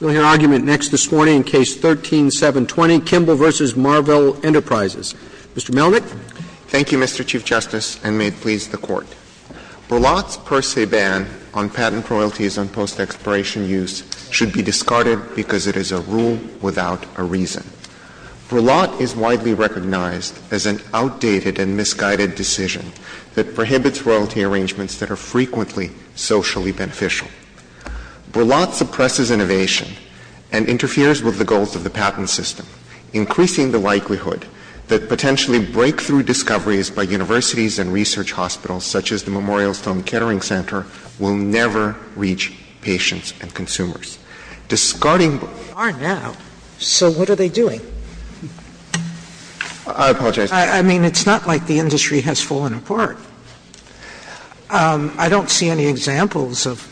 We'll hear argument next this morning in Case 13-720, Kimble v. Marvel Enterprises. Mr. Melnick. Thank you, Mr. Chief Justice, and may it please the Court. Berlotte's per se ban on patent royalties on post-expiration use should be discarded because it is a rule without a reason. Berlotte is widely recognized as an outdated and misguided decision that prohibits royalty arrangements that are frequently socially beneficial. Berlotte suppresses innovation and interferes with the goals of the patent system, increasing the likelihood that potentially breakthrough discoveries by universities and research hospitals, such as the Memorial Stone Catering Center, will never reach patients and consumers. Discarding Berlotte's ban on patent royalties on post-expiration use should be discarded because it is a rule without a reason. They are now, so what are they doing? I apologize. I mean, it's not like the industry has fallen apart. I don't see any examples of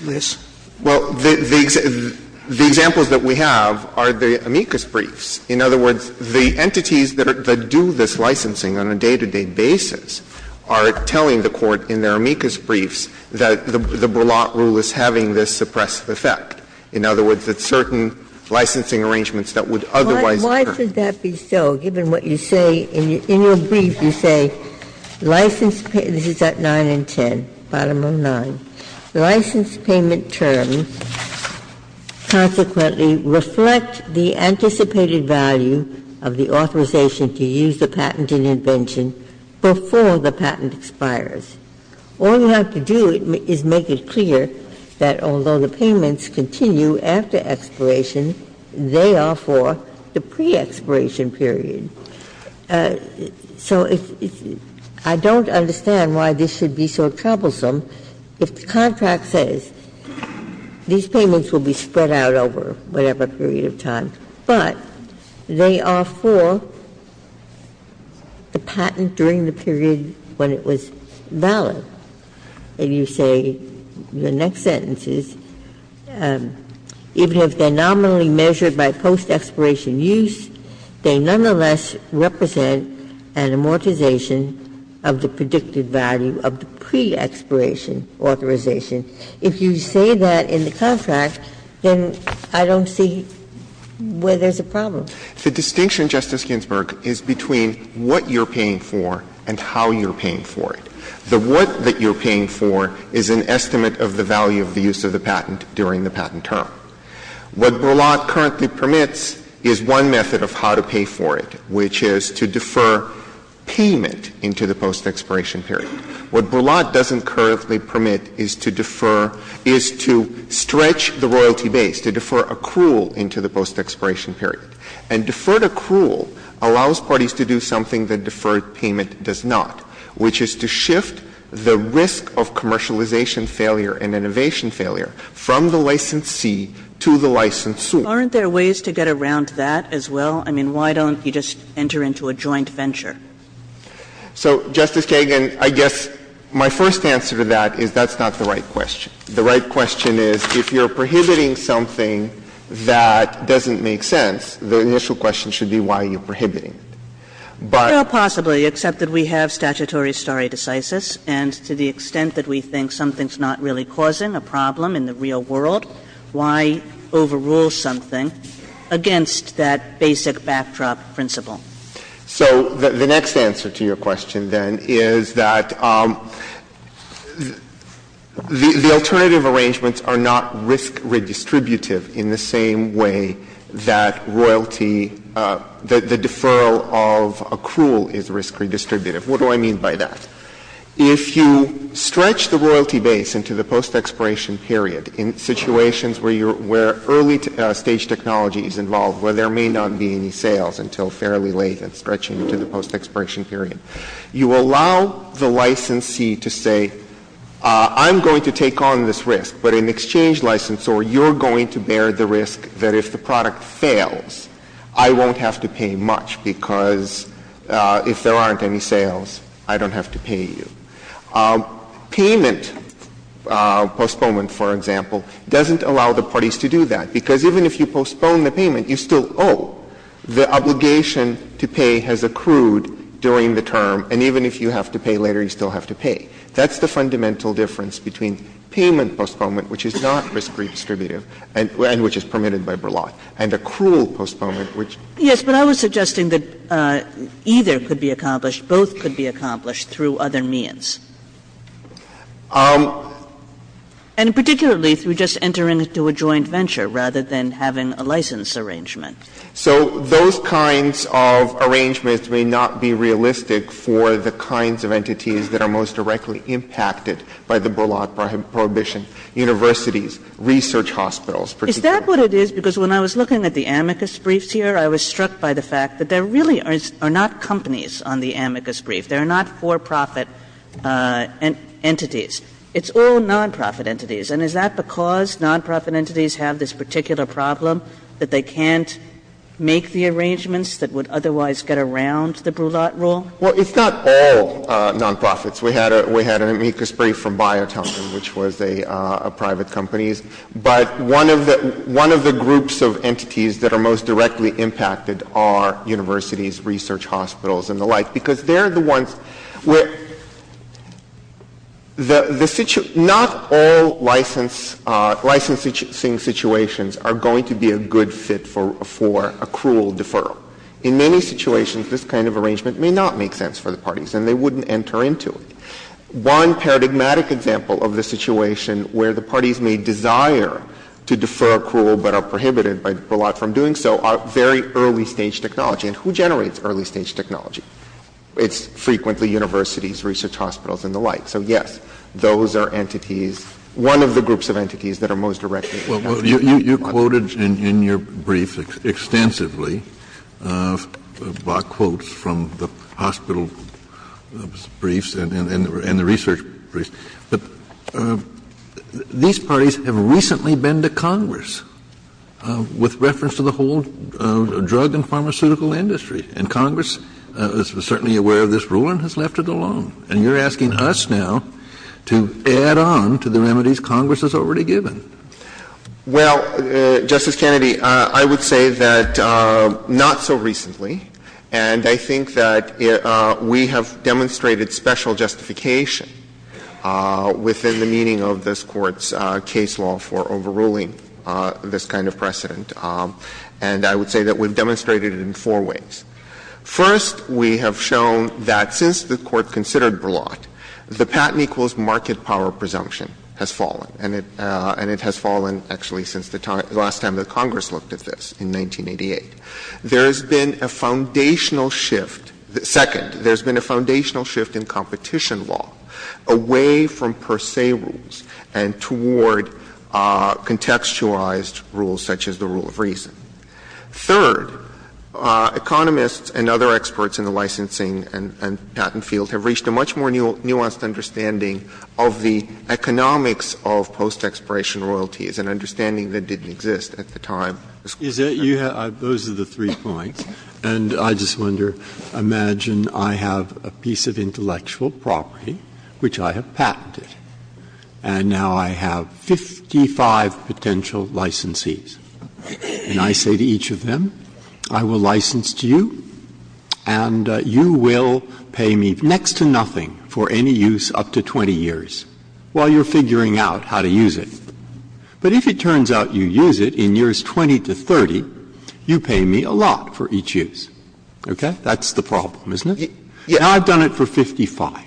this. Well, the examples that we have are the amicus briefs. In other words, the entities that do this licensing on a day-to-day basis are telling the Court in their amicus briefs that the Berlotte rule is having this suppressive effect. In other words, that certain licensing arrangements that would otherwise occur. Why should that be so, given what you say in your brief, you say, this is at 9 and 10, bottom of 9. License payment terms consequently reflect the anticipated value of the authorization to use the patent in invention before the patent expires. All you have to do is make it clear that although the payments continue after expiration, they are for the pre-expiration period. So I don't understand why this should be so troublesome if the contract says these payments will be spread out over whatever period of time, but they are for the patent during the period when it was valid. If you say in the next sentences, even if they are nominally measured by post-expiration use, they nonetheless represent an amortization of the predicted value of the pre-expiration authorization. If you say that in the contract, then I don't see where there's a problem. The distinction, Justice Ginsburg, is between what you're paying for and how you're paying for it. The what that you're paying for is an estimate of the value of the use of the patent during the patent term. What Berlant currently permits is one method of how to pay for it, which is to defer payment into the post-expiration period. What Berlant doesn't currently permit is to defer — is to stretch the royalty base, to defer accrual into the post-expiration period. And deferred accrual allows parties to do something that deferred payment does not, which is to shift the risk of commercialization failure and innovation failure from the licensee to the licensor. Kagan. Aren't there ways to get around that as well? I mean, why don't you just enter into a joint venture? So, Justice Kagan, I guess my first answer to that is that's not the right question. The right question is, if you're prohibiting something that doesn't make sense, the initial question should be why are you prohibiting it. But — Well, possibly, except that we have statutory stare decisis, and to the extent that we think something's not really causing a problem in the real world, why overrule something against that basic backdrop principle? So the next answer to your question, then, is that the alternative arrangements are not risk-redistributive in the same way that royalty — the deferral of accrual is risk-redistributive. What do I mean by that? If you stretch the royalty base into the post-expiration period in situations where you're — where early-stage technology is involved, where there may not be any sales until fairly late and stretching into the post-expiration period, you allow the licensee to say, I'm going to take on this risk, but in exchange licensor, you're going to bear the risk that if the product fails, I won't have to pay much because if there aren't any sales, I don't have to pay you. Payment postponement, for example, doesn't allow the parties to do that because even if you postpone the payment, you still owe. The obligation to pay has accrued during the term, and even if you have to pay later, you still have to pay. That's the fundamental difference between payment postponement, which is not risk-redistributive and which is permitted by Burlough, and accrual postponement, which — Kagan Yes, but I was suggesting that either could be accomplished, both could be accomplished through other means. And particularly through just entering into a joint venture rather than having a license arrangement. So those kinds of arrangements may not be realistic for the kinds of entities that are most directly impacted by the Burlough Prohibition. And I think that's what I'm trying to get at here, which is that there are a lot of entities that are directly impacted by the Burlough Prohibition, universities, research hospitals, particularly. Kagan Is that what it is? Because when I was looking at the amicus briefs here, I was struck by the fact that there really are not companies on the amicus brief. There are not for-profit entities. It's all non-profit entities. And is that because non-profit entities have this particular problem, that they can't make the arrangements that would otherwise get around the Brulot rule? Well, it's not all non-profits. We had a — we had an amicus brief from Biotunga, which was a — a private company's. But one of the — one of the groups of entities that are most directly impacted are universities, research hospitals, and the like, because they're the ones where the — the — not all license — licensing situations are going to be a good fit for a cruel deferral. In many situations, this kind of arrangement may not make sense for the parties, and they wouldn't enter into it. One paradigmatic example of the situation where the parties may desire to defer a cruel but are prohibited by Brulot from doing so are very early-stage technology. And who generates early-stage technology? It's frequently universities, research hospitals, and the like. So yes, those are entities — one of the groups of entities that are most directly impacted by the law. Well, you — you quoted in your brief extensively by quotes from the hospital briefs and the research briefs, but these parties have recently been to Congress with reference to the whole drug and pharmaceutical industry. And Congress is certainly aware of this rule and has left it alone. And you're asking us now to add on to the remedies Congress has already given. Well, Justice Kennedy, I would say that not so recently. And I think that we have demonstrated special justification within the meaning of this Court's case law for overruling this kind of precedent. And I would say that we've demonstrated it in four ways. First, we have shown that since the Court considered Brulot, the patent equals market power presumption has fallen. And it — and it has fallen, actually, since the time — the last time that Congress looked at this, in 1988. There has been a foundational shift — second, there's been a foundational shift in competition law away from per se rules and toward contextualized rules such as the rule of reason. Third, economists and other experts in the licensing and patent field have reached a much more nuanced understanding of the economics of post-expiration royalties, an understanding that didn't exist at the time. Breyer. Those are the three points. And I just wonder, imagine I have a piece of intellectual property which I have patented. And now I have 55 potential licensees. And I say to each of them, I will license to you, and you will pay me next to nothing for any use up to 20 years, while you're figuring out how to use it. But if it turns out you use it in years 20 to 30, you pay me a lot for each use. Okay? That's the problem, isn't it? Now, I've done it for 55.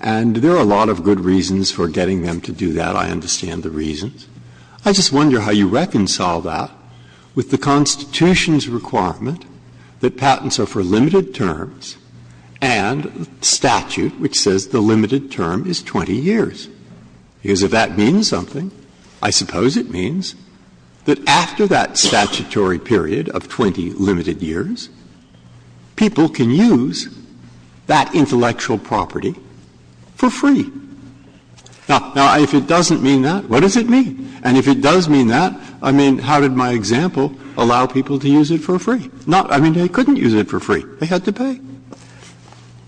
And there are a lot of good reasons for getting them to do that. I understand the reasons. I just wonder how you reconcile that with the Constitution's requirement that patents are for limited terms and statute, which says the limited term is 20 years. Because if that means something, I suppose it means that after that statutory period of 20 limited years, people can use that intellectual property for free. Now, if it doesn't mean that, what does it mean? And if it does mean that, I mean, how did my example allow people to use it for free? Not — I mean, they couldn't use it for free. They had to pay.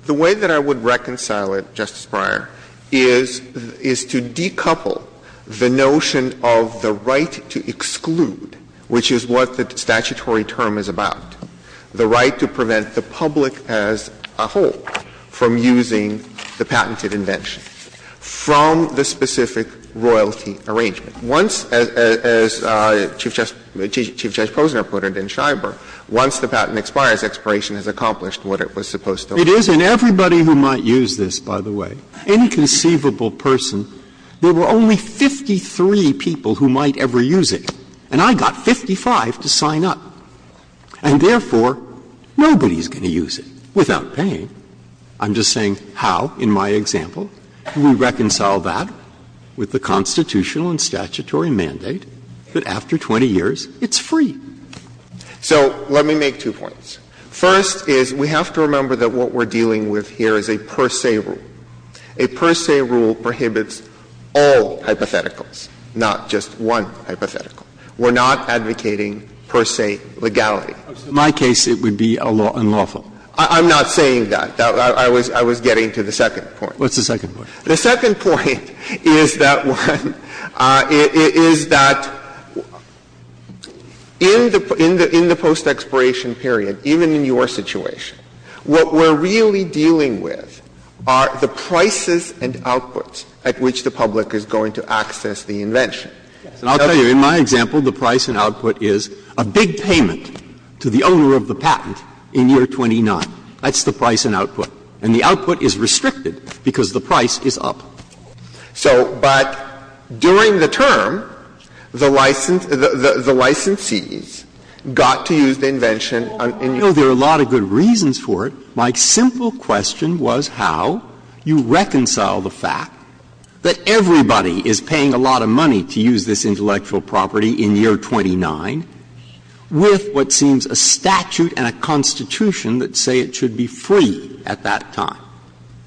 The way that I would reconcile it, Justice Breyer, is to decouple the notion of the right to exclude, which is what the statutory term is about, the right to prevent the public as a whole from using the patented invention, from the specific royalty arrangement. Once, as Chief Judge Posner put it in Schreiber, once the patent expires, expiration has accomplished what it was supposed to. It is, and everybody who might use this, by the way, inconceivable person, there were only 53 people who might ever use it, and I got 55 to sign up. And therefore, nobody is going to use it without paying. I'm just saying how, in my example, can we reconcile that with the Constitutional and statutory mandate that after 20 years, it's free? So let me make two points. First is we have to remember that what we're dealing with here is a per se rule. A per se rule prohibits all hypotheticals, not just one hypothetical. We're not advocating per se legality. In my case, it would be unlawful. I'm not saying that. I was getting to the second point. What's the second point? The second point is that one, is that in the post-expiration period, even in your situation, what we're really dealing with are the prices and outputs at which the public is going to access the invention. Breyer, in my example, the price and output is a big payment to the owner of the patent in year 29. That's the price and output. And the output is restricted because the price is up. So, but during the term, the licensee's got to use the invention in year 29. There are a lot of good reasons for it. My simple question was how you reconcile the fact that everybody is paying a lot of money to use this intellectual property in year 29 with what seems a statute and a constitution that say it should be free at that time.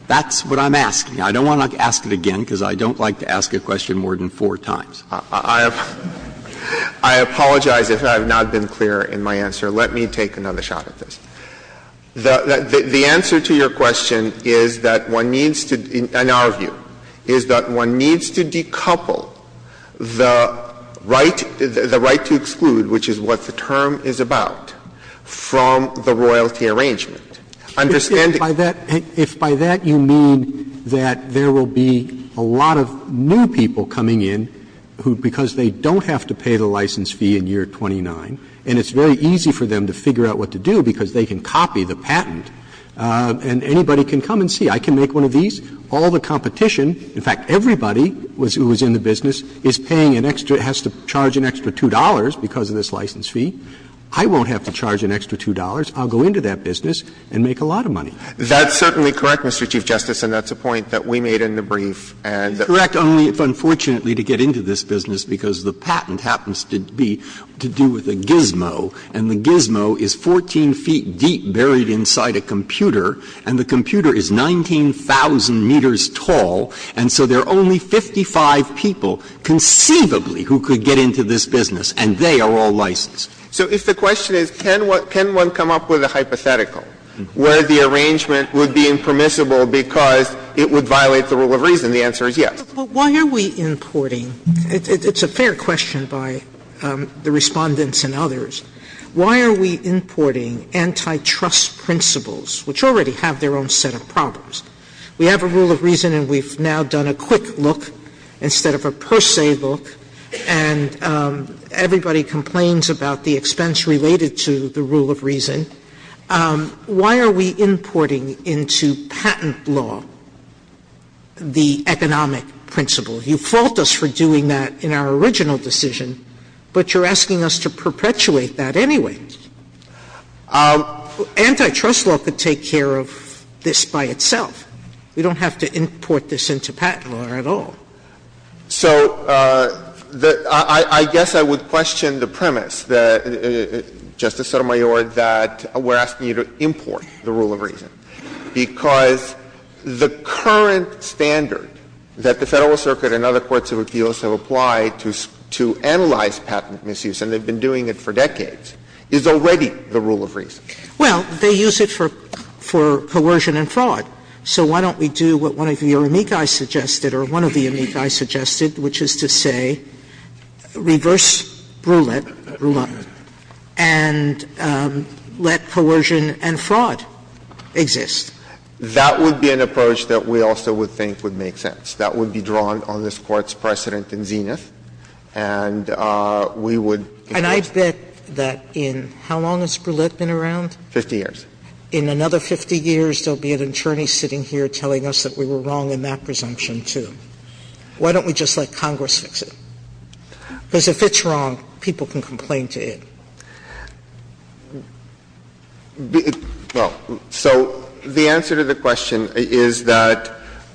That's what I'm asking. I don't want to ask it again, because I don't like to ask a question more than four times. I have to apologize if I have not been clear in my answer. Let me take another shot at this. The answer to your question is that one needs to, in our view, is that one needs to decouple the right, the right to exclude, which is what the term is about, from the royalty arrangement. Understand that. Roberts. If by that you mean that there will be a lot of new people coming in who, because they don't have to pay the license fee in year 29, and it's very easy for them to figure out what to do because they can copy the patent, and anybody can come and see. I can make one of these. All the competition, in fact, everybody who was in the business, is paying an extra – has to charge an extra $2 because of this license fee. I won't have to charge an extra $2. I'll go into that business and make a lot of money. That's certainly correct, Mr. Chief Justice, and that's a point that we made in the brief. And the – Correct, only if unfortunately to get into this business, because the patent happens to be to do with a gizmo, and the gizmo is 14 feet deep, buried inside a computer, and the computer is 19,000 meters tall, and so there are only 55 people, conceivably, who could get into this business, and they are all licensed. So if the question is, can one come up with a hypothetical where the arrangement would be impermissible because it would violate the rule of reason, the answer is yes. Sotomayor, it's a fair question by the Respondents and others. Why are we importing antitrust principles, which already have their own set of problems? We have a rule of reason, and we've now done a quick look instead of a per se look, and everybody complains about the expense related to the rule of reason. Why are we importing into patent law the economic principle? You fault us for doing that in our original decision, but you're asking us to perpetuate that anyway. Antitrust law could take care of this by itself. We don't have to import this into patent law at all. So I guess I would question the premise that, Justice Sotomayor, that we're asking you to import the rule of reason, because the current standard that the Federal Circuit and other courts of appeals have applied to analyze patent misuse, and they've been doing it for decades, is already the rule of reason. Well, they use it for coercion and fraud. So why don't we do what one of your amici suggested, or one of the amici suggested, which is to say, reverse Brouillette and let coercion and fraud exist? That would be an approach that we also would think would make sense. That would be drawn on this Court's precedent in Zenith, and we would impose it. And I bet that in how long has Brouillette been around? Fifty years. In another 50 years, there will be an attorney sitting here telling us that we were wrong in that presumption, too. Why don't we just let Congress fix it? Because if it's wrong, people can complain to it. Well, so the answer to the question is that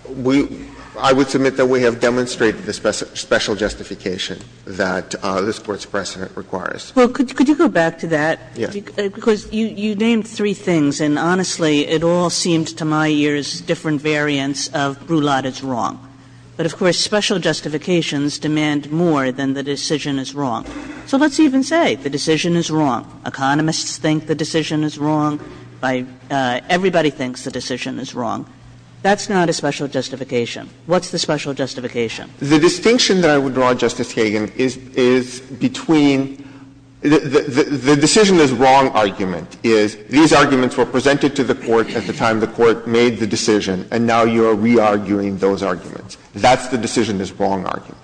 we – I would submit that we have demonstrated the special justification that this Court's precedent requires. Well, could you go back to that? Yeah. Because you named three things, and honestly, it all seemed to my ears different variants of Brouillette is wrong. But of course, special justifications demand more than the decision is wrong. So let's even say the decision is wrong. Economists think the decision is wrong. Everybody thinks the decision is wrong. That's not a special justification. What's the special justification? The distinction that I would draw, Justice Kagan, is between the decision is wrong argument is these arguments were presented to the Court at the time the Court made the decision, and now you are re-arguing those arguments. That's the decision is wrong argument.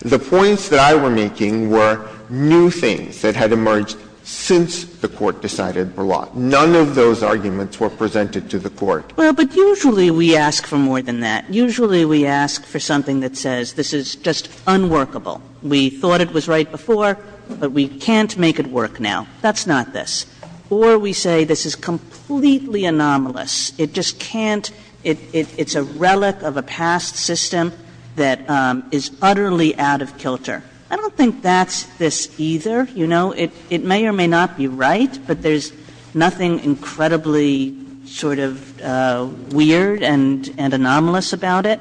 The points that I were making were new things that had emerged since the Court decided Brouillette. None of those arguments were presented to the Court. Well, but usually we ask for more than that. Usually we ask for something that says this is just unworkable. We thought it was right before, but we can't make it work now. That's not this. Or we say this is completely anomalous. It just can't – it's a relic of a past system that is utterly out of kilter. I don't think that's this either. You know, it may or may not be right, but there's nothing incredibly sort of weird and anomalous about it.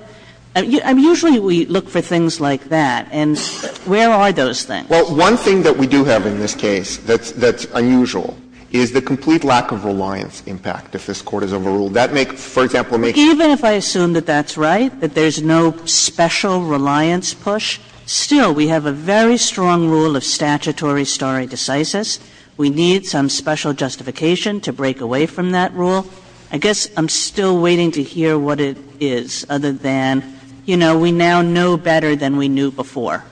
I mean, usually we look for things like that, and where are those things? Well, one thing that we do have in this case that's unusual is the complete lack of reliance impact, if this Court has overruled. That makes, for example, makes it unusual. Even if I assume that that's right, that there's no special reliance push, still we have a very strong rule of statutory stare decisis. We need some special justification to break away from that rule. I guess I'm still waiting to hear what it is, other than, you know, we now know better than we knew before.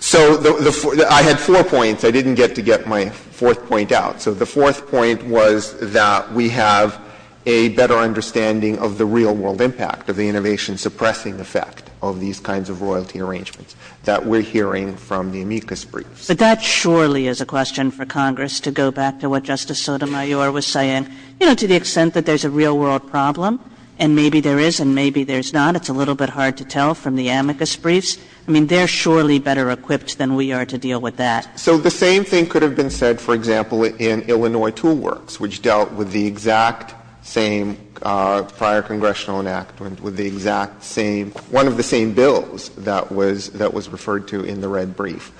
So the – I had four points. I didn't get to get my fourth point out. So the fourth point was that we have a better understanding of the real world impact, of the innovation-suppressing effect of these kinds of royalty arrangements that we're hearing from the amicus briefs. But that surely is a question for Congress to go back to what Justice Sotomayor was saying. You know, to the extent that there's a real world problem, and maybe there is and maybe there's not, it's a little bit hard to tell from the amicus briefs. I mean, they're surely better equipped than we are to deal with that. So the same thing could have been said, for example, in Illinois Tool Works, which dealt with the exact same prior congressional enactment, with the exact same – one of the same bills that was – that was referred to in the red brief.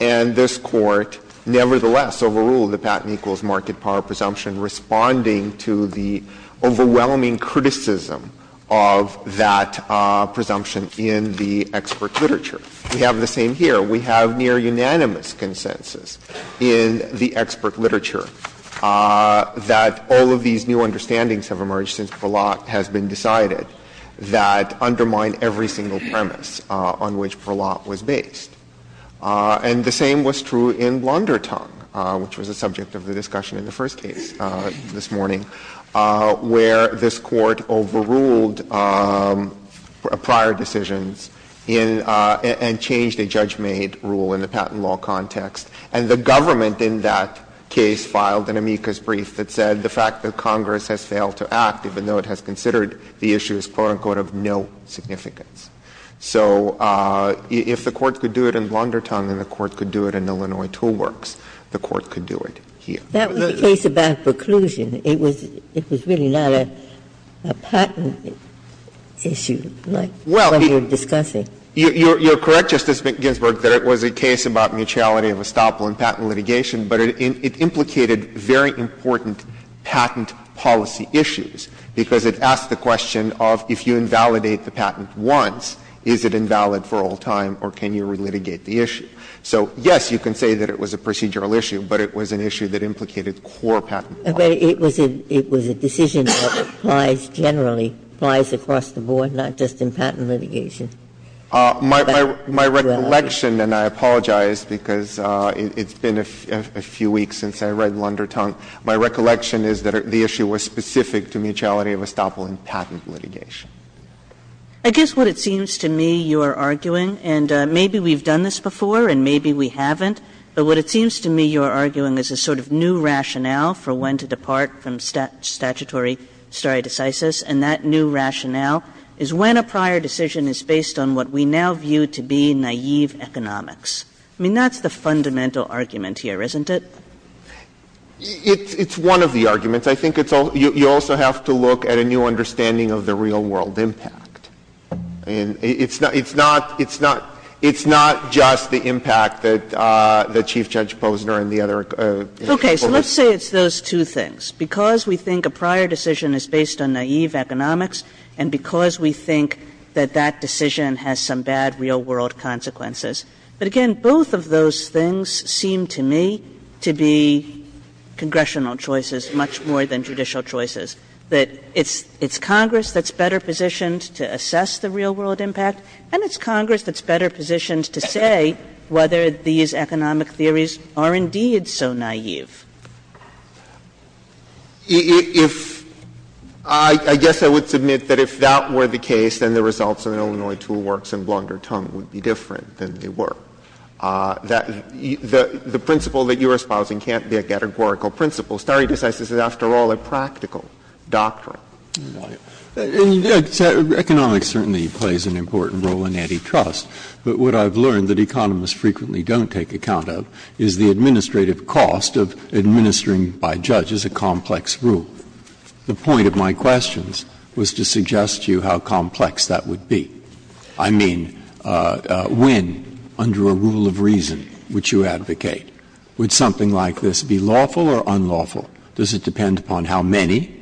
And this Court, nevertheless, overruled the patent equals market power presumption responding to the overwhelming criticism of that presumption in the expert literature. We have the same here. We have near unanimous consensus in the expert literature that all of these new understandings have emerged since Verlotte has been decided that undermine every single premise on which Verlotte was based. And the same was true in Blundertung, which was the subject of the discussion in the first case this morning, where this Court overruled prior decisions in – and changed a judgment rule in the patent law context. And the government in that case filed an amicus brief that said the fact that Congress has failed to act, even though it has considered the issue as, quote-unquote, of no significance. So if the Court could do it in Blundertung and the Court could do it in Illinois Tool Works, the Court could do it here. Ginsburg. That was a case about preclusion. It was – it was really not a patent issue like what you're discussing. You're correct, Justice Ginsburg, that it was a case about mutuality of estoppel in patent litigation, but it implicated very important patent policy issues, because it asked the question of if you invalidate the patent once, is it invalid for all time, or can you relitigate the issue? So, yes, you can say that it was a procedural issue, but it was an issue that implicated core patent policy. But it was a decision that applies generally, applies across the board, not just in patent litigation. My recollection, and I apologize because it's been a few weeks since I read Blundertung, my recollection is that the issue was specific to mutuality of estoppel in patent litigation. Kagan. I guess what it seems to me you're arguing, and maybe we've done this before and maybe we haven't, but what it seems to me you're arguing is a sort of new rationale for when to depart from statutory stare decisis, and that new rationale is when a prior decision is based on what we now view to be naive economics. I mean, that's the fundamental argument here, isn't it? It's one of the arguments. I think it's all you also have to look at a new understanding of the real world impact, and it's not, it's not, it's not, it's not just the impact that Chief Judge Posner and the other people were saying. Okay. So let's say it's those two things. Because we think a prior decision is based on naive economics, and because we think that that decision has some bad real world consequences. But again, both of those things seem to me to be congressional choices much more than judicial choices. That it's Congress that's better positioned to assess the real world impact, and it's Congress that's better positioned to say whether these economic theories are indeed so naive. If — I guess I would submit that if that were the case, then the results of an Illinois tool works and Blundertongue would be different than they were. That the principle that you are espousing can't be a categorical principle. Stare decisis is, after all, a practical doctrine. And economics certainly plays an important role in antitrust, but what I've learned that economists frequently don't take account of is the administrative cost of administering, by judges, a complex rule. The point of my questions was to suggest to you how complex that would be. I mean, when, under a rule of reason which you advocate, would something like this be lawful or unlawful? Does it depend upon how many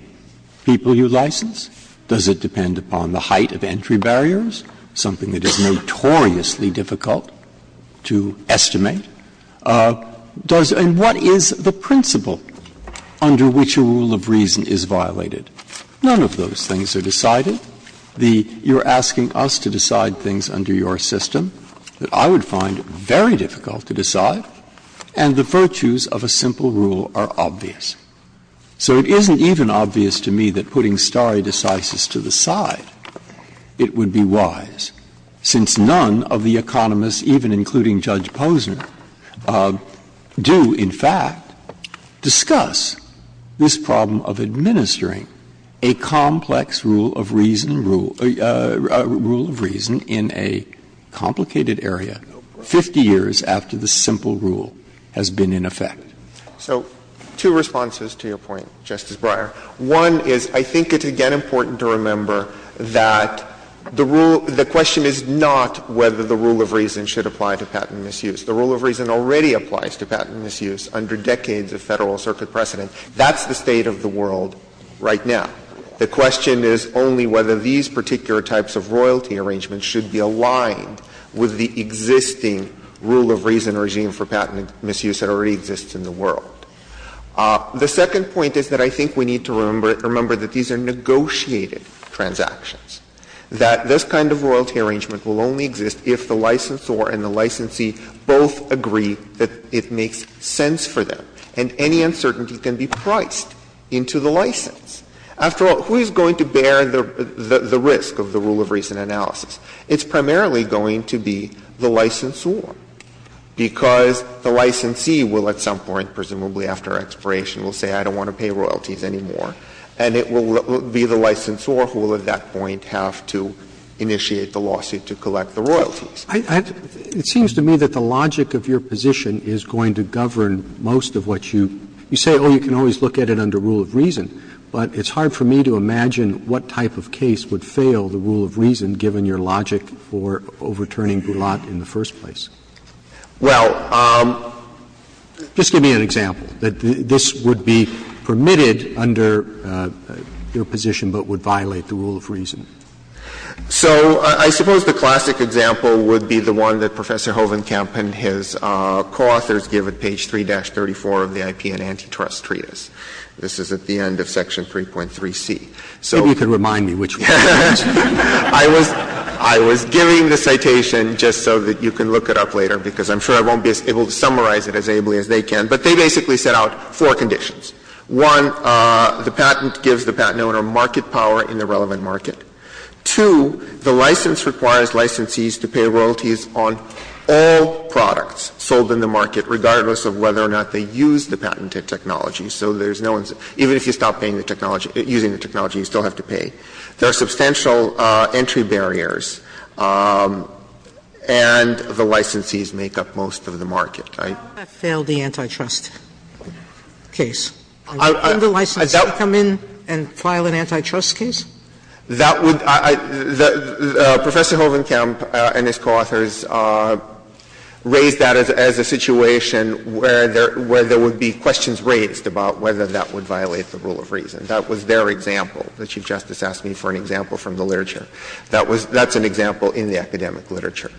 people you license? Does it depend upon the height of entry barriers, something that is notoriously difficult to estimate? Does — and what is the principle under which a rule of reason is violated? None of those things are decided. The — you're asking us to decide things under your system that I would find very difficult to decide, and the virtues of a simple rule are obvious. So it isn't even obvious to me that putting stare decisis to the side, it would be wise, since none of the economists, even including Judge Posner, do, in fact, discuss this problem of administering a complex rule of reason — rule of reason in a complicated area 50 years after the simple rule has been in effect. So two responses to your point, Justice Breyer. One is, I think it's, again, important to remember that the rule — the question is not whether the rule of reason should apply to patent misuse. The rule of reason already applies to patent misuse under decades of Federal Circuit precedent. That's the state of the world right now. The question is only whether these particular types of royalty arrangements should be aligned with the existing rule of reason regime for patent misuse that already exists in the world. The second point is that I think we need to remember that these are negotiated transactions, that this kind of royalty arrangement will only exist if the licensor and the licensee both agree that it makes sense for them, and any uncertainty can be priced into the license. After all, who is going to bear the risk of the rule of reason analysis? It's primarily going to be the licensor, because the licensee will at some point, presumably after expiration, will say, I don't want to pay royalties anymore. And it will be the licensor who will at that point have to initiate the lawsuit to collect the royalties. Roberts. It seems to me that the logic of your position is going to govern most of what you — you say, oh, you can always look at it under rule of reason, but it's hard for me to imagine what type of case would fail the rule of reason, given your logic for overturning Boulat in the first place. Well, just give me an example, that this would be permitted under your position but would violate the rule of reason. So I suppose the classic example would be the one that Professor Hovenkamp and his co-authors give at page 3-34 of the IP and antitrust treatise. This is at the end of Section 3.3c. So you can remind me which one it is. I was giving the citation just so that you can look it up later, because I'm sure I won't be able to summarize it as ably as they can. But they basically set out four conditions. One, the patent gives the patent owner market power in the relevant market. Two, the license requires licensees to pay royalties on all products sold in the market, regardless of whether or not they use the patented technology. So there's no one's — even if you stop paying the technology — using the technology, you still have to pay. There are substantial entry barriers, and the licensees make up most of the market. Sotomayor, I failed the antitrust case. Can the licensee come in and file an antitrust case? That would — Professor Hovenkamp and his co-authors raised that as a situation where there would be questions raised about whether that would violate the rule of reason. That was their example, that Chief Justice asked me for an example from the literature. That was — that's an example in the academic literature.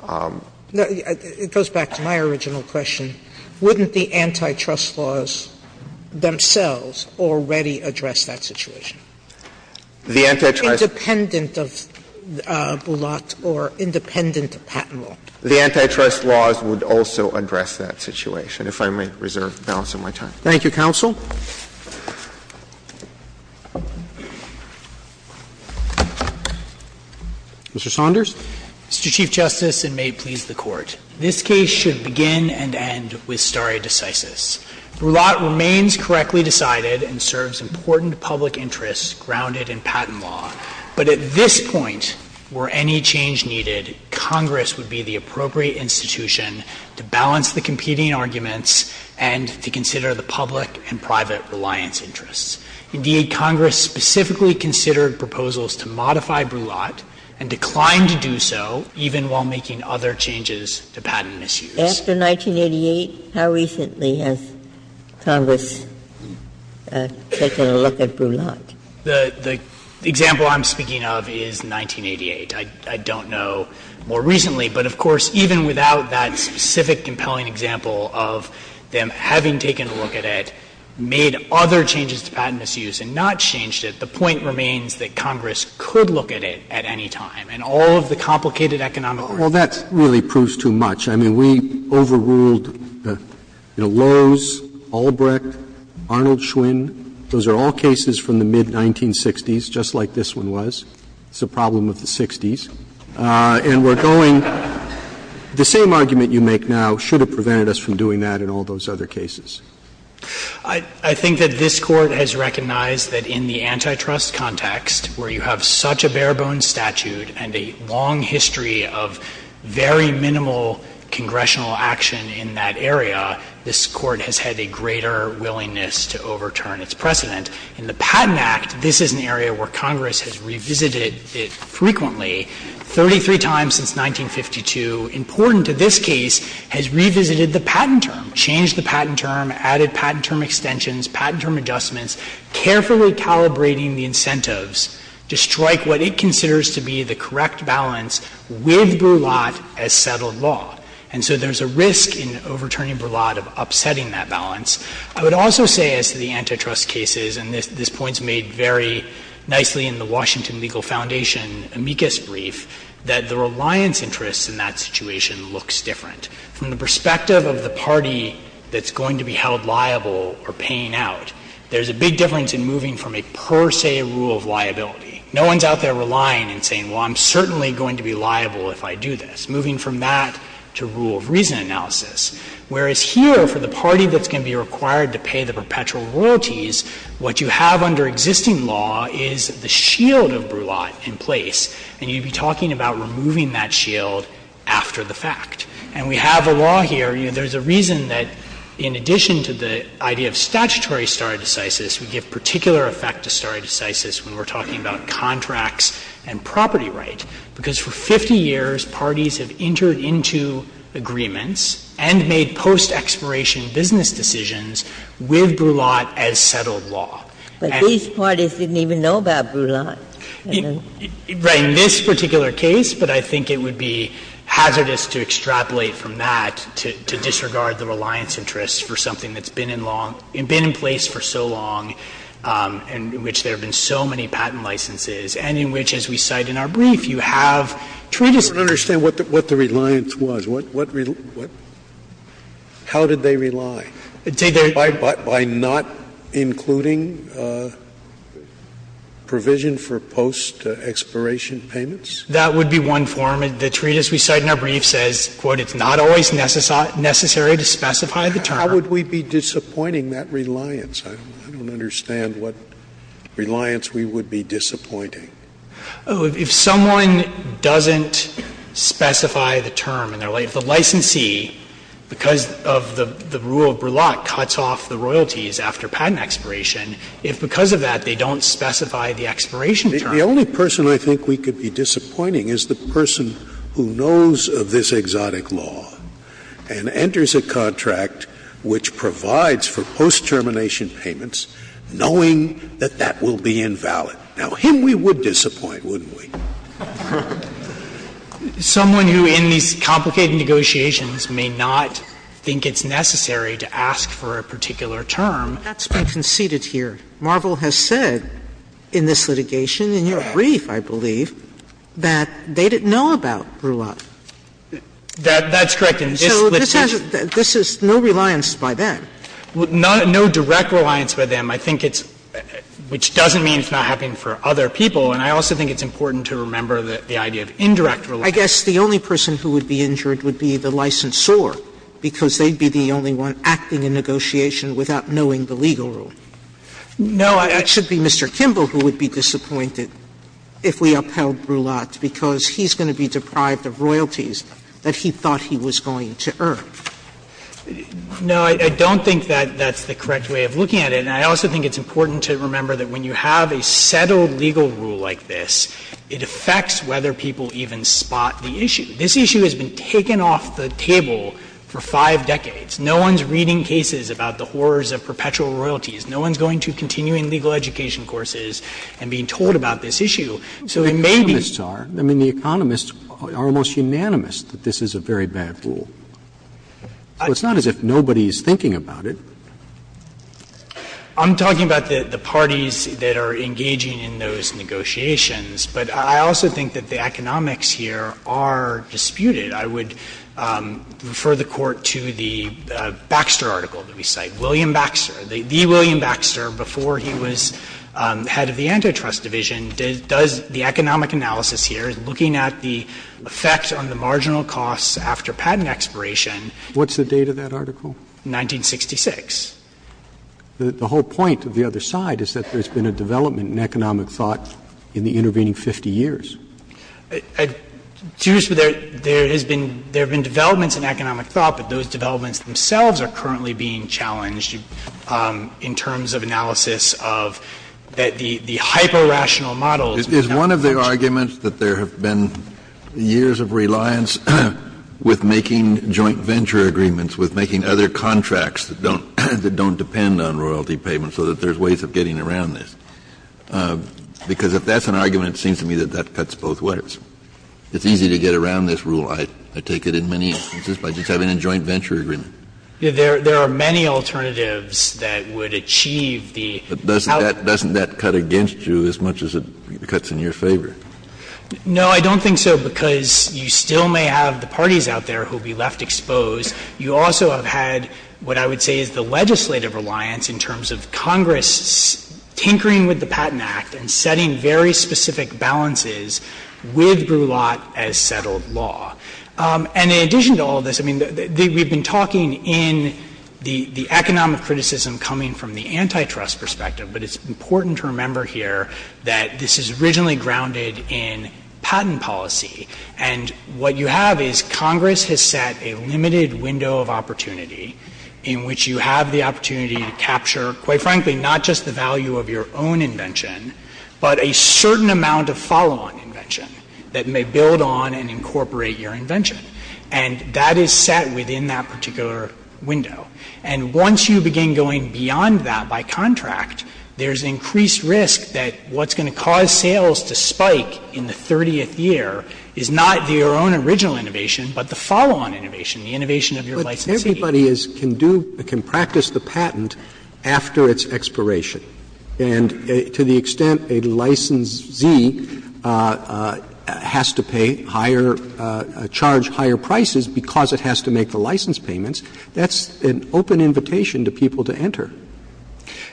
Sotomayor, it goes back to my original question. Wouldn't the antitrust laws themselves already address that situation? The antitrust— Independent of Boulat or independent of Patent Law. The antitrust laws would also address that situation, if I may reserve the balance of my time. Thank you, counsel. Mr. Saunders. Mr. Chief Justice, and may it please the Court, this case should begin and end with stare decisis. Boulat remains correctly decided and serves important public interests grounded in Patent Law. But at this point, were any change needed, Congress would be the appropriate institution to balance the competing arguments and to consider the public and private reliance interests. Indeed, Congress specifically considered proposals to modify Boulat and declined to do so, even while making other changes to patent issues. After 1988, how recently has Congress taken a look at Boulat? The example I'm speaking of is 1988. I don't know more recently. But, of course, even without that specific compelling example of them having taken a look at it, made other changes to patent misuse and not changed it, the point remains that Congress could look at it at any time. And all of the complicated economic arguments— Roberts, well, that really proves too much. I mean, we overruled Lowe's, Albrecht, Arnold Schwinn. Those are all cases from the mid-1960s, just like this one was. It's a problem of the 60s. And we're going— The same argument you make now should have prevented us from doing that in all those other cases. I think that this Court has recognized that in the antitrust context, where you have such a bare-bones statute and a long history of very minimal congressional action in that area, this Court has had a greater willingness to overturn its precedent. In the Patent Act, this is an area where Congress has revisited it frequently, 33 times since 1952. Important to this case has revisited the patent term, changed the patent term, added patent term extensions, patent term adjustments, carefully calibrating the incentives to strike what it considers to be the correct balance with Broulat as settled law. And so there's a risk in overturning Broulat of upsetting that balance. I would also say as to the antitrust cases, and this point is made very nicely in the Washington Legal Foundation amicus brief, that the reliance interests in that situation looks different. From the perspective of the party that's going to be held liable or paying out, there's a big difference in moving from a per se rule of liability. No one's out there relying and saying, well, I'm certainly going to be liable if I do this, moving from that to rule of reason analysis. Whereas here, for the party that's going to be required to pay the perpetual royalties, what you have under existing law is the shield of Broulat in place, and you'd be talking about removing that shield after the fact. And we have a law here. There's a reason that in addition to the idea of statutory stare decisis, we give particular effect to stare decisis when we're talking about contracts and property rights, because for 50 years, parties have entered into agreements and made post-expiration business decisions with Broulat as settled law. And they've been in place for so long, in which there have been so many patent licenses, and in which, as we cite in our Broulat case, the reliance interests have been in place for so long. So, if you have a patent interest that's not in the brief, you have treatise. Scalia I don't understand what the reliance was. What rel – what – how did they rely? By not including provision for post-expiration payments? That would be one form. The treatise we cite in our brief says, quote, it's not always necessary to specify the term. How would we be disappointing that reliance? I don't understand what reliance we would be disappointing. Frederick If someone doesn't specify the term in their licensee, because of the rule of Broulat, cuts off the royalties after patent expiration, if because of that they don't specify the expiration term. Scalia The only person I think we could be disappointing is the person who knows of this litigation, who knows of the post-expiration payments, knowing that that will be invalid. Now, him we would disappoint, wouldn't we? Sotomayor Someone who in these complicated negotiations may not think it's necessary to ask for a particular term. Sotomayor That's been conceded here. Marvel has said in this litigation, in your brief, I believe, that they didn't know about Broulat. Frederick That's correct in this litigation. Sotomayor This is no reliance by them. Frederick No direct reliance by them. I think it's – which doesn't mean it's not happening for other people. And I also think it's important to remember the idea of indirect reliance. Sotomayor I guess the only person who would be injured would be the licensor, because they'd be the only one acting in negotiation without knowing the legal rule. Frederick No, I – Sotomayor It should be Mr. Kimball who would be disappointed if we upheld Broulat, because he's going to be deprived of royalties that he thought he was going to earn. Frederick No, I don't think that that's the correct way of looking at it. And I also think it's important to remember that when you have a settled legal rule like this, it affects whether people even spot the issue. This issue has been taken off the table for five decades. No one's reading cases about the horrors of perpetual royalties. No one's going to continuing legal education courses and being told about this issue. So it may be – But the economists are almost unanimous that this is a very bad rule. So it's not as if nobody is thinking about it. Frederick I'm talking about the parties that are engaging in those negotiations. But I also think that the economics here are disputed. I would refer the Court to the Baxter article that we cite. William Baxter, the William Baxter, before he was head of the Antitrust Division, does the economic analysis here, looking at the effect on the marginal costs after patent expiration. Roberts What's the date of that article? Frederick 1966. Roberts The whole point of the other side is that there's been a development in economic thought in the intervening 50 years. Frederick There has been – there have been developments in economic thought, but those developments themselves are currently being challenged in terms of analysis of the hyper-rational models. Kennedy Is one of the arguments that there have been years of reliance with making joint venture agreements, with making other contracts that don't – that don't depend on royalty payments, so that there's ways of getting around this? Because if that's an argument, it seems to me that that cuts both ways. It's easy to get around this rule, I take it, in many instances, by just having a joint venture agreement. Frederick There are many alternatives that would achieve the outcome. Kennedy Doesn't that cut against you as much as it cuts in your favor? Frederick No, I don't think so, because you still may have the parties out there who will be left exposed. You also have had what I would say is the legislative reliance in terms of Congress tinkering with the Patent Act and setting very specific balances with Brulat as settled law. And in addition to all of this, I mean, we've been talking in the economic criticism coming from the antitrust perspective, but it's important to remember here that this is originally grounded in patent policy. And what you have is Congress has set a limited window of opportunity in which you have the opportunity to capture, quite frankly, not just the value of your own invention, but a certain amount of follow-on invention that may build on and incorporate your invention. And that is set within that particular window. And once you begin going beyond that by contract, there's increased risk that what's going to cause sales to spike in the 30th year is not your own original innovation, but the follow-on innovation, the innovation of your licensee. Roberts But everybody is can do or can practice the patent after its expiration, and to the extent a licensee has to pay higher, charge higher prices because it has to make the license payments, that's an open invitation to people to enter.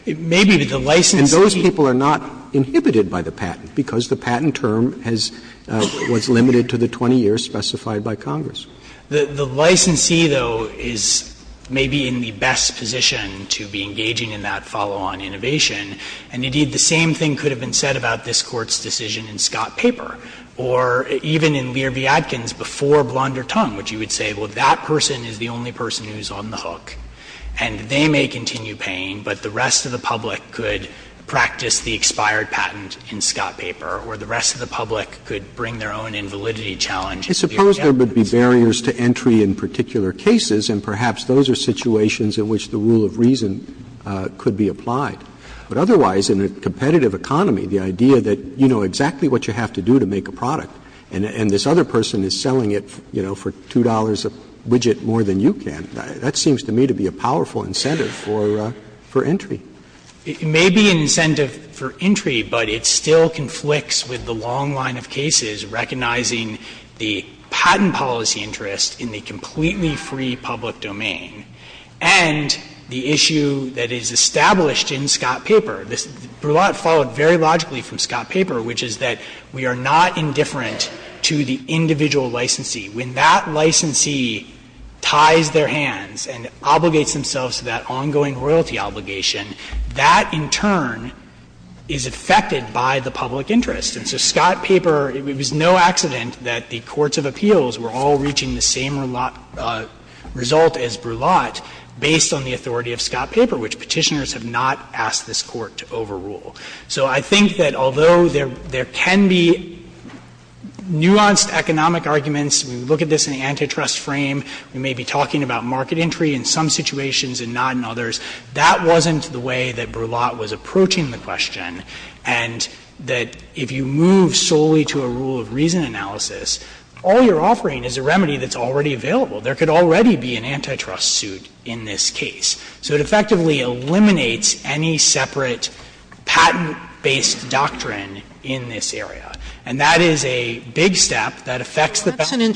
And those people are not inhibited by the patent because the patent term has been limited to the 20 years specified by Congress. The licensee, though, is maybe in the best position to be engaging in that follow-on innovation. And indeed, the same thing could have been said about this Court's decision in Scott Paper or even in Lear v. Adkins before Blonder Tongue, which you would say, well, that person is the only person who is on the hook, and they may continue paying, but the rest of the public could practice the expired patent in Scott Paper, or the rest of the public could bring their own invalidity challenge into the agenda. Roberts I suppose there would be barriers to entry in particular cases, and perhaps those are situations in which the rule of reason could be applied. But otherwise, in a competitive economy, the idea that you know exactly what you have to do to make a product, and this other person is selling it, you know, for $2 a widget more than you can, that seems to me to be a powerful incentive for entry. Dreeben It may be an incentive for entry, but it still conflicts with the long line of cases recognizing the patent policy interest in the completely free public domain and the issue that is established in Scott Paper. This Brulat followed very logically from Scott Paper, which is that we are not indifferent to the individual licensee. When that licensee ties their hands and obligates themselves to that ongoing royalty obligation, that, in turn, is affected by the public interest. And so Scott Paper, it was no accident that the courts of appeals were all reaching the same result as Brulat based on the authority of Scott Paper, which Petitioners have not asked this Court to overrule. So I think that although there can be nuanced economic arguments, we look at this in the antitrust frame, we may be talking about market entry in some situations and not in others, that wasn't the way that Brulat was approaching the question, and that if you move solely to a rule of reason analysis, all you're offering is a remedy that's already available. There could already be an antitrust suit in this case. So it effectively eliminates any separate patent-based doctrine in this area. And that is a big step that affects the patent. Sotomayor,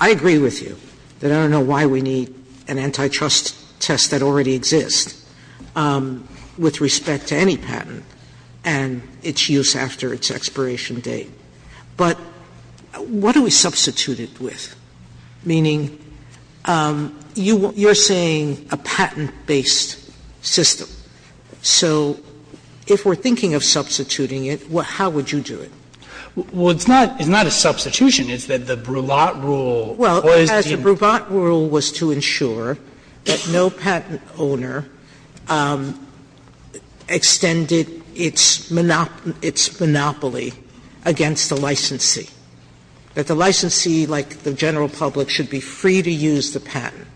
I agree with you that I don't know why we need an antitrust test that already exists with respect to any patent and its use after its expiration date. But what do we substitute it with? Meaning, you're saying a patent-based system. So if we're thinking of substituting it, how would you do it? Well, it's not a substitution. It's that the Brulat rule was to ensure that no patent owner extended its monopoly against the licensee, that the licensee, like the general public, should be free to use the patent.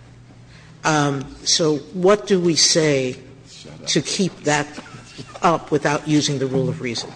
So what do we say to keep that up without using the rule of reason?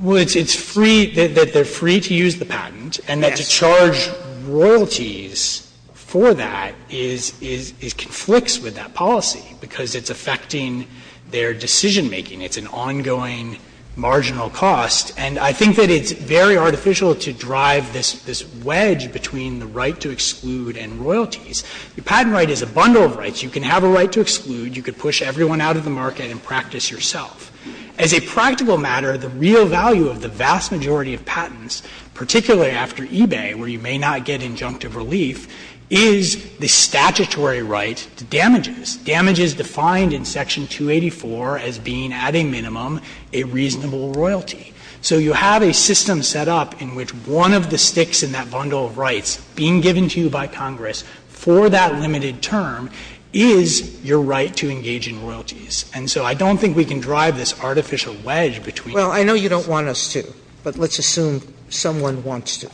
Well, it's free, that they're free to use the patent, and that to charge royalties for that is, is, is, conflicts with that policy because it's affecting their decision making. It's an ongoing marginal cost. And I think that it's very artificial to drive this, this wedge between the right to exclude and royalties. The patent right is a bundle of rights. You can have a right to exclude. You could push everyone out of the market and practice yourself. As a practical matter, the real value of the vast majority of patents, particularly after eBay, where you may not get injunctive relief, is the statutory right to damages, damages defined in Section 284 as being at a minimum a reasonable royalty. So you have a system set up in which one of the sticks in that bundle of rights being given to you by Congress for that limited term is your right to engage in royalties. And so I don't think we can drive this artificial wedge between the two. Sotomayor Well, I know you don't want us to, but let's assume someone wants to,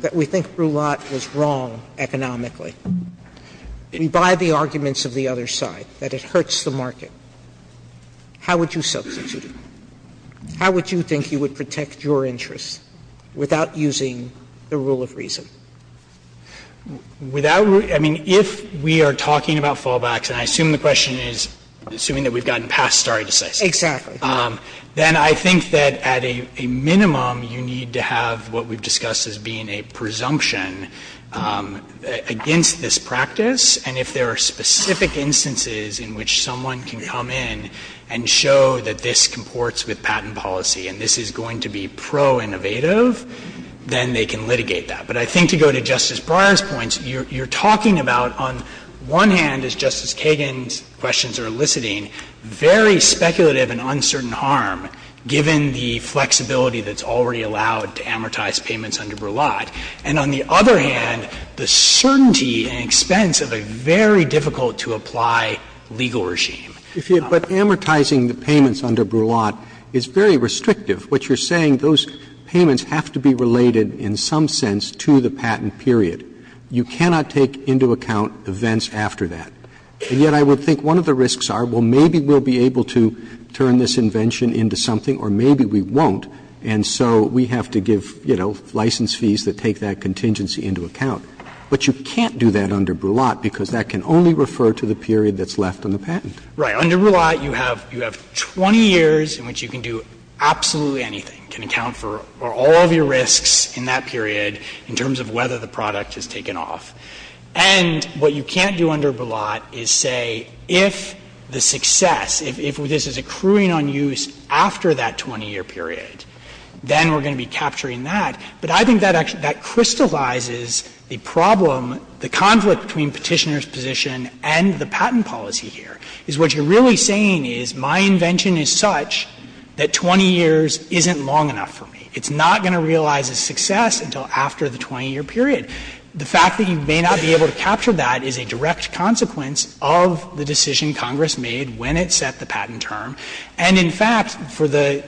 that we think Brulat was wrong economically by the arguments of the other side, that it hurts the market. How would you substitute it? How would you think you would protect your interests without using the rule of reason? Goldstein, I mean, if we are talking about fallbacks, and I assume the question is, assuming that we've gotten past stare decisis. Sotomayor Exactly. Goldstein, then I think that at a minimum you need to have what we've discussed as being a presumption against this practice. And if there are specific instances in which someone can come in and show that this comports with patent policy and this is going to be pro-innovative, then they can litigate that. But I think to go to Justice Breyer's points, you're talking about, on one hand, as Justice Kagan's questions are eliciting, very speculative and uncertain harm, given the flexibility that's already allowed to amortize payments under Brulat. And on the other hand, the certainty and expense of a very difficult-to-apply legal regime. Roberts, but amortizing the payments under Brulat is very restrictive. What you're saying, those payments have to be related in some sense to the patent period. You cannot take into account events after that. And yet I would think one of the risks are, well, maybe we'll be able to turn this invention into something or maybe we won't, and so we have to give, you know, license fees that take that contingency into account. But you can't do that under Brulat because that can only refer to the period that's left on the patent. Right. Under Brulat, you have 20 years in which you can do absolutely anything, can account for all of your risks in that period in terms of whether the product has taken off. And what you can't do under Brulat is say, if the success, if this is accruing on use after that 20-year period, then we're going to be capturing that. But I think that crystallizes the problem, the conflict between Petitioner's position and the patent policy here, is what you're really saying is my invention is such that 20 years isn't long enough for me. It's not going to realize a success until after the 20-year period. The fact that you may not be able to capture that is a direct consequence of the decision Congress made when it set the patent term. And, in fact, for the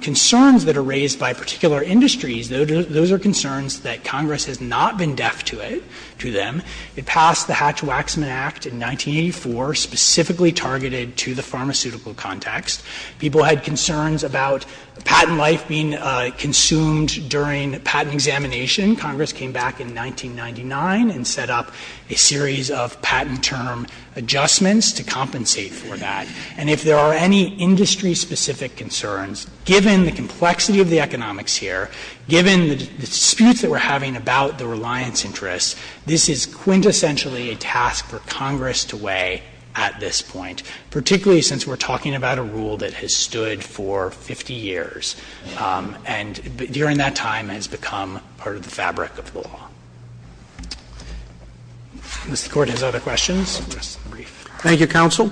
concerns that are raised by particular industries, those are concerns that Congress has not been deaf to it, to them. It passed the Hatch-Waxman Act in 1984, specifically targeted to the pharmaceutical context. People had concerns about patent life being consumed during patent examination. Congress came back in 1999 and set up a series of patent term adjustments to compensate for that. And if there are any industry-specific concerns, given the complexity of the economics here, given the disputes that we're having about the reliance interests, this is clearly quintessentially a task for Congress to weigh at this point, particularly since we're talking about a rule that has stood for 50 years and during that time has become part of the fabric of the law. If the Court has other questions, I'll address them briefly. Roberts. Thank you, counsel.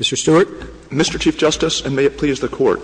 Mr. Stewart. Mr. Chief Justice, and may it please the Court.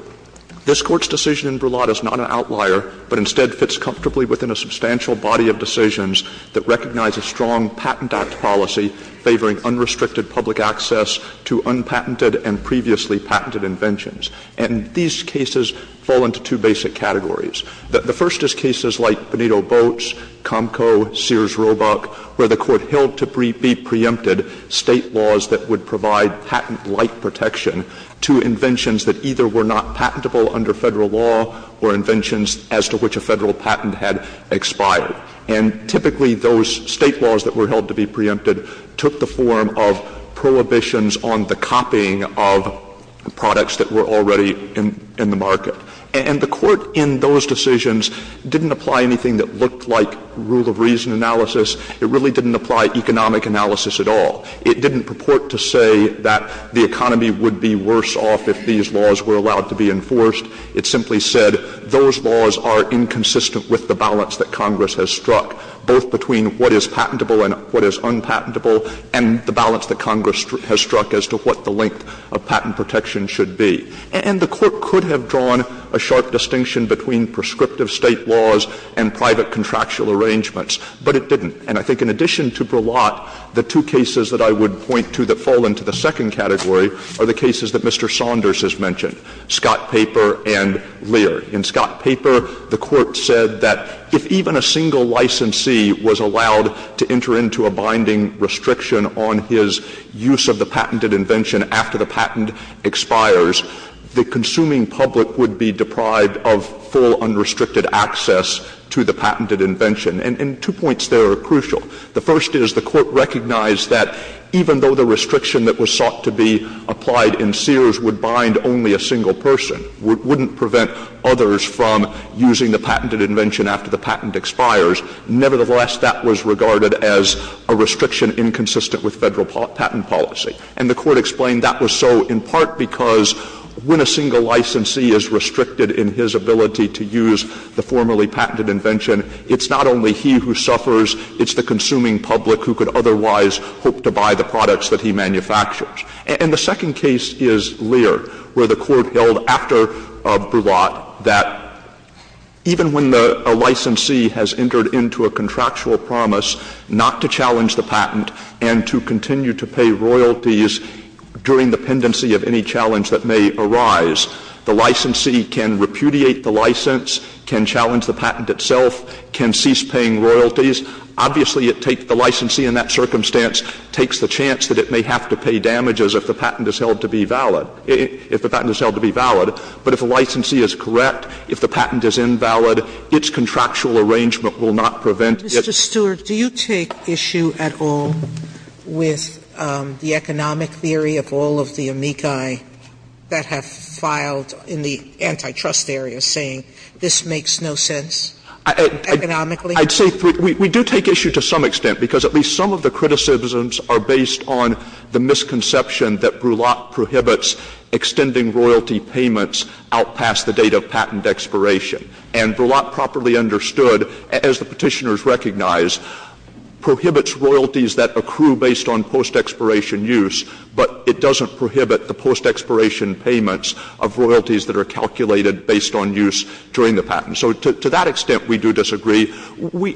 This Court's decision in Brulotte is not an outlier, but instead fits comfortably within a substantial body of decisions that recognize a strong Patent Act policy favoring unrestricted public access to unpatented and previously patented inventions. And these cases fall into two basic categories. The first is cases like Bonito Boats, Comco, Sears Roebuck, where the Court held to be preempted State laws that would provide patent-like protection to inventions that either were not patentable under Federal law or inventions as to which a Federal patent had expired. And typically, those State laws that were held to be preempted took the form of prohibitions on the copying of products that were already in the market. And the Court in those decisions didn't apply anything that looked like rule of reason analysis. It really didn't apply economic analysis at all. It didn't purport to say that the economy would be worse off if these laws were allowed to be enforced. It simply said those laws are inconsistent with the balance that Congress has struck, both between what is patentable and what is unpatentable, and the balance that Congress has struck as to what the length of patent protection should be. And the Court could have drawn a sharp distinction between prescriptive State laws and private contractual arrangements, but it didn't. And I think in addition to Brillat, the two cases that I would point to that fall into the second category are the cases that Mr. Saunders has mentioned, Scott Paper and Lear. In Scott Paper, the Court said that if even a single licensee was allowed to enter into a binding restriction on his use of the patented invention after the patent expires, the consuming public would be deprived of full unrestricted access to the patented invention. And two points there are crucial. The first is the Court recognized that even though the restriction that was sought to be applied in Sears would bind only a single person, wouldn't prevent others from using the patented invention after the patent expires, nevertheless, that was regarded as a restriction inconsistent with Federal patent policy. And the Court explained that was so in part because when a single licensee is restricted in his ability to use the formerly patented invention, it's not only he who suffers, it's the consuming public who could otherwise hope to buy the products that he manufactures. And the second case is Lear, where the Court held after Brulat that even when a licensee has entered into a contractual promise not to challenge the patent and to continue to pay royalties during the pendency of any challenge that may arise, the licensee can repudiate the license, can challenge the patent itself, can cease paying royalties. Obviously, it takes the licensee in that circumstance, takes the chance that it may have to pay damages if the patent is held to be valid, if the patent is held to be valid, but if the licensee is correct, if the patent is invalid, its contractual arrangement will not prevent it. Sotomayor, do you take issue at all with the economic theory of all of the amici that have filed in the antitrust areas saying this makes no sense economically? I'd say we do take issue to some extent, because at least some of the criticisms are based on the misconception that Brulat prohibits extending royalty payments out past the date of patent expiration. And Brulat properly understood, as the Petitioners recognize, prohibits royalties that accrue based on post-expiration use, but it doesn't prohibit the post-expiration payments of royalties that are calculated based on use during the patent. So to that extent, we do disagree.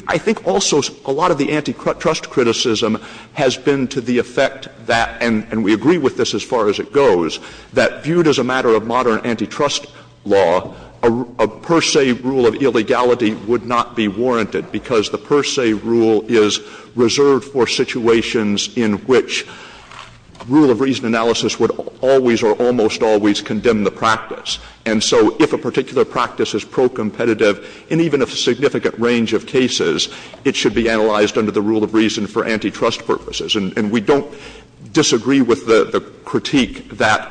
I think also a lot of the antitrust criticism has been to the effect that, and we agree with this as far as it goes, that viewed as a matter of modern antitrust law, a per se rule of illegality would not be warranted, because the per se rule is reserved for situations in which rule of reason analysis would always or almost always condemn the practice. And so if a particular practice is pro-competitive in even a significant range of cases, it should be analyzed under the rule of reason for antitrust purposes. And we don't disagree with the critique that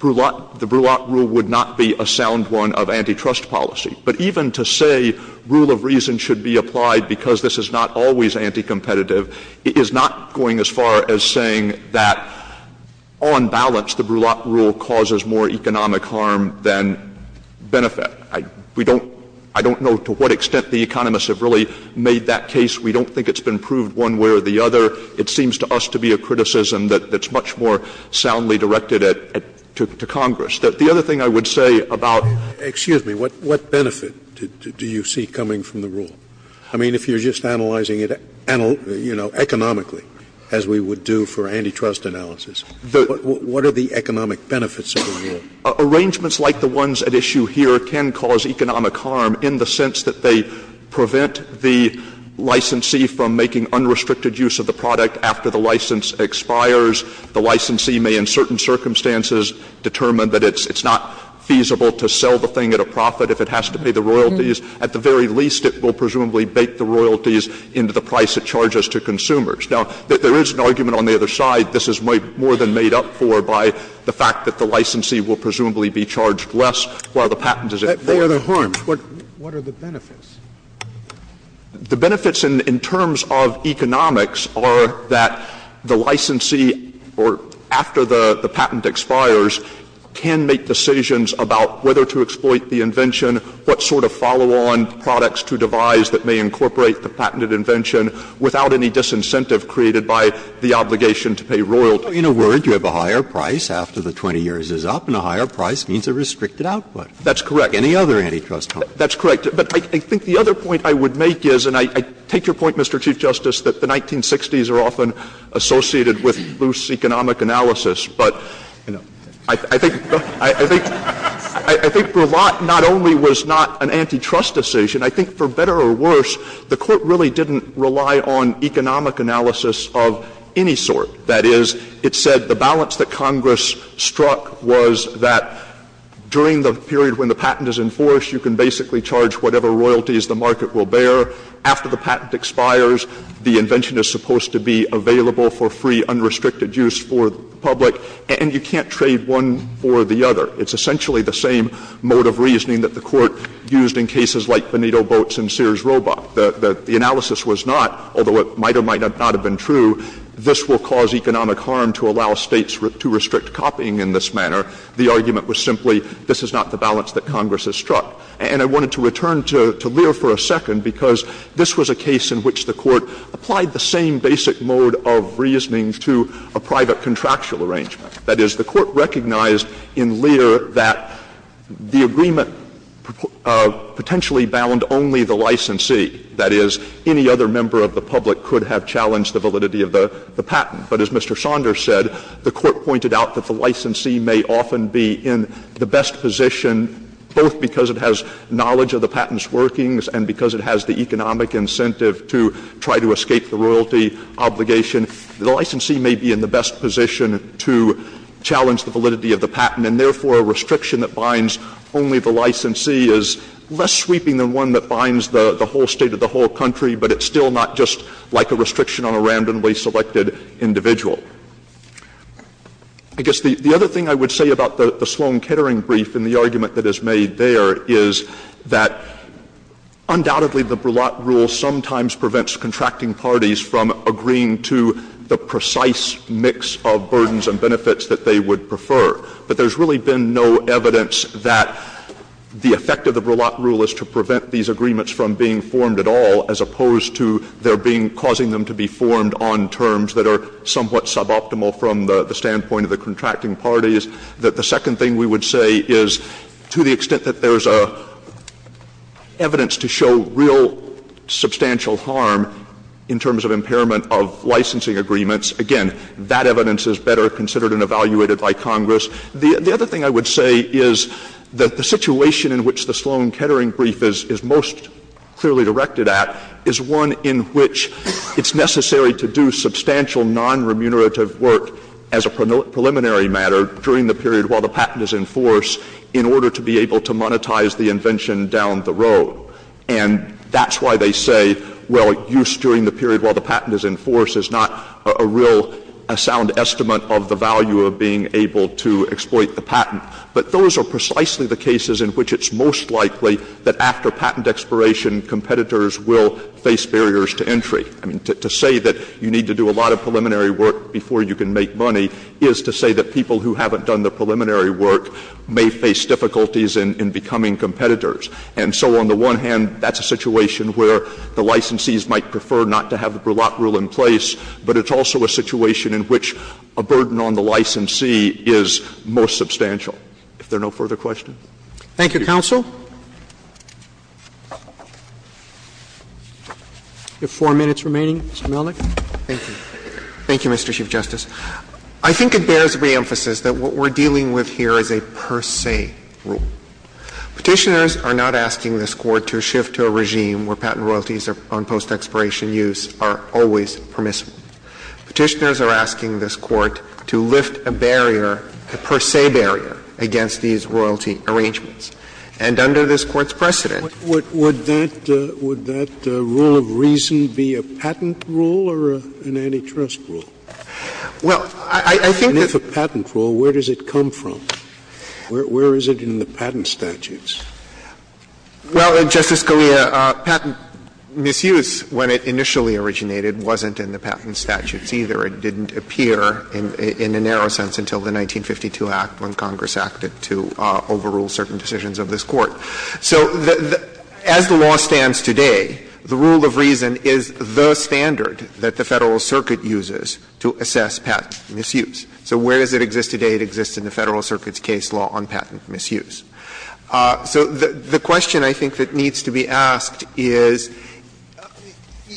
Brulat rule would not be a sound one of antitrust policy. But even to say rule of reason should be applied because this is not always anticompetitive is not going as far as saying that, on balance, the Brulat rule causes more economic harm than benefit. I don't know to what extent the economists have really made that case. We don't think it's been proved one way or the other. It seems to us to be a criticism that's much more soundly directed to Congress. The other thing I would say about- Scalia Excuse me. What benefit do you see coming from the rule? I mean, if you're just analyzing it, you know, economically, as we would do for antitrust analysis, what are the economic benefits of the rule? Arrangements like the ones at issue here can cause economic harm in the sense that they prevent the licensee from making unrestricted use of the product after the license expires. The licensee may, in certain circumstances, determine that it's not feasible to sell the thing at a profit if it has to pay the royalties. At the very least, it will presumably bake the royalties into the price it charges to consumers. Now, there is an argument on the other side this is more than made up for by the fact that the licensee will presumably be charged less while the patent is at fault. Scalia What are the harms? What are the benefits? The benefits in terms of economics are that the licensee, or after the patent expires, can make decisions about whether to exploit the invention, what sort of follow-on products to devise that may incorporate the patented invention, without any disincentive created by the obligation to pay royalties. Breyer In a word, you have a higher price after the 20 years is up, and a higher price means a restricted output. That's correct. Any other antitrust harm? Stewart That's correct. But I think the other point I would make is, and I take your point, Mr. Chief Justice, that the 1960s are often associated with loose economic analysis, but I think for a lot, not only was not an antitrust decision, I think for better or worse, the Court really didn't rely on economic analysis of any sort. That is, it said the balance that Congress struck was that during the period when the patent is enforced, you can basically charge whatever royalties the market will bear. After the patent expires, the invention is supposed to be available for free, unrestricted use for the public, and you can't trade one for the other. It's essentially the same mode of reasoning that the Court used in cases like Benito Boats and Sears Roebuck. The analysis was not, although it might or might not have been true, this will cause economic harm to allow States to restrict copying in this manner. The argument was simply, this is not the balance that Congress has struck. And I wanted to return to Lear for a second, because this was a case in which the Court applied the same basic mode of reasoning to a private contractual arrangement. That is, the Court recognized in Lear that the agreement potentially bound only the licensee, that is, any other member of the public could have challenged the validity of the patent. But as Mr. Saunders said, the Court pointed out that the licensee may often be in the best position, both because it has knowledge of the patent's workings and because it has the economic incentive to try to escape the royalty obligation. The licensee may be in the best position to challenge the validity of the patent, and therefore a restriction that binds only the licensee is less sweeping than one that binds the whole State or the whole country, but it's still not just like a restriction on a randomly selected individual. I guess the other thing I would say about the Sloan-Kettering brief and the argument that is made there is that undoubtedly the Broulat rule sometimes prevents contracting parties from agreeing to the precise mix of burdens and benefits that they would prefer. But there's really been no evidence that the effect of the Broulat rule is to prevent these agreements from being formed at all, as opposed to there being — causing them to be formed on terms that are somewhat suboptimal from the standpoint of the contracting parties. The second thing we would say is to the extent that there's evidence to show real substantial harm in terms of impairment of licensing agreements, again, that evidence is better considered and evaluated by Congress. The other thing I would say is that the situation in which the Sloan-Kettering brief is most clearly directed at is one in which it's necessary to do substantial non-remunerative work as a preliminary matter during the period while the patent is in force in order to be able to monetize the invention down the road. And that's why they say, well, use during the period while the patent is in force is not a real — a sound estimate of the value of being able to exploit the patent. But those are precisely the cases in which it's most likely that after patent expiration, competitors will face barriers to entry. I mean, to say that you need to do a lot of preliminary work before you can make money is to say that people who haven't done the preliminary work may face difficulties in becoming competitors. And so on the one hand, that's a situation where the licensees might prefer not to have a burlap rule in place, but it's also a situation in which a burden on the licensee is most substantial. If there are no further questions. Thank you. Thank you, counsel. You have four minutes remaining, Mr. Melnick. Thank you. Thank you, Mr. Chief Justice. I think it bears reemphasis that what we're dealing with here is a per se rule. Petitioners are not asking this Court to shift to a regime where patent royalties on post-expiration use are always permissible. Petitioners are asking this Court to lift a barrier, a per se barrier, against these royalty arrangements. And under this Court's precedent, what would that rule of reason be, a patent rule or an antitrust rule? Well, I think that's a patent rule. Where does it come from? Where is it in the patent statutes? Well, Justice Scalia, patent misuse, when it initially originated, wasn't in the patent statutes either. It didn't appear in a narrow sense until the 1952 Act when Congress acted to overrule certain decisions of this Court. So as the law stands today, the rule of reason is the standard that the Federal Circuit uses to assess patent misuse. So where does it exist today? It exists in the Federal Circuit's case law on patent misuse. So the question, I think, that needs to be asked is,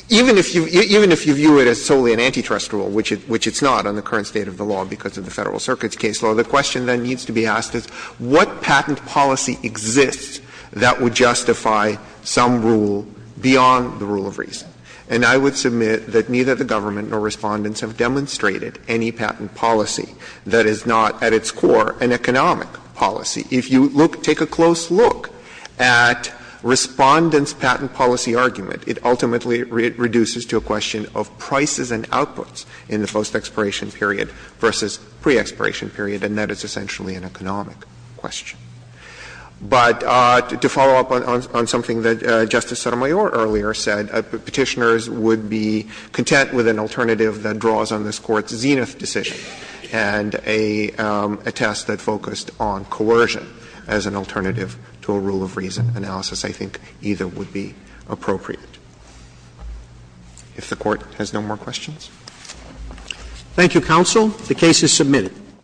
even if you view it as solely an antitrust rule, which it's not on the current state of the law because of the Federal Circuit's case law, the question that needs to be asked is, what patent policy exists that would justify some rule beyond the rule of reason? And I would submit that neither the government nor Respondents have demonstrated any patent policy that is not, at its core, an economic policy. If you look, take a close look at Respondents' patent policy argument, it ultimately reduces to a question of prices and outputs in the post-expiration period versus pre-expiration period, and that is essentially an economic question. But to follow up on something that Justice Sotomayor earlier said, Petitioners would be content with an alternative that draws on this Court's zenith decision and a test that focused on coercion as an alternative to a rule of reason analysis. I think either would be appropriate. If the Court has no more questions. Roberts. Thank you, counsel. The case is submitted.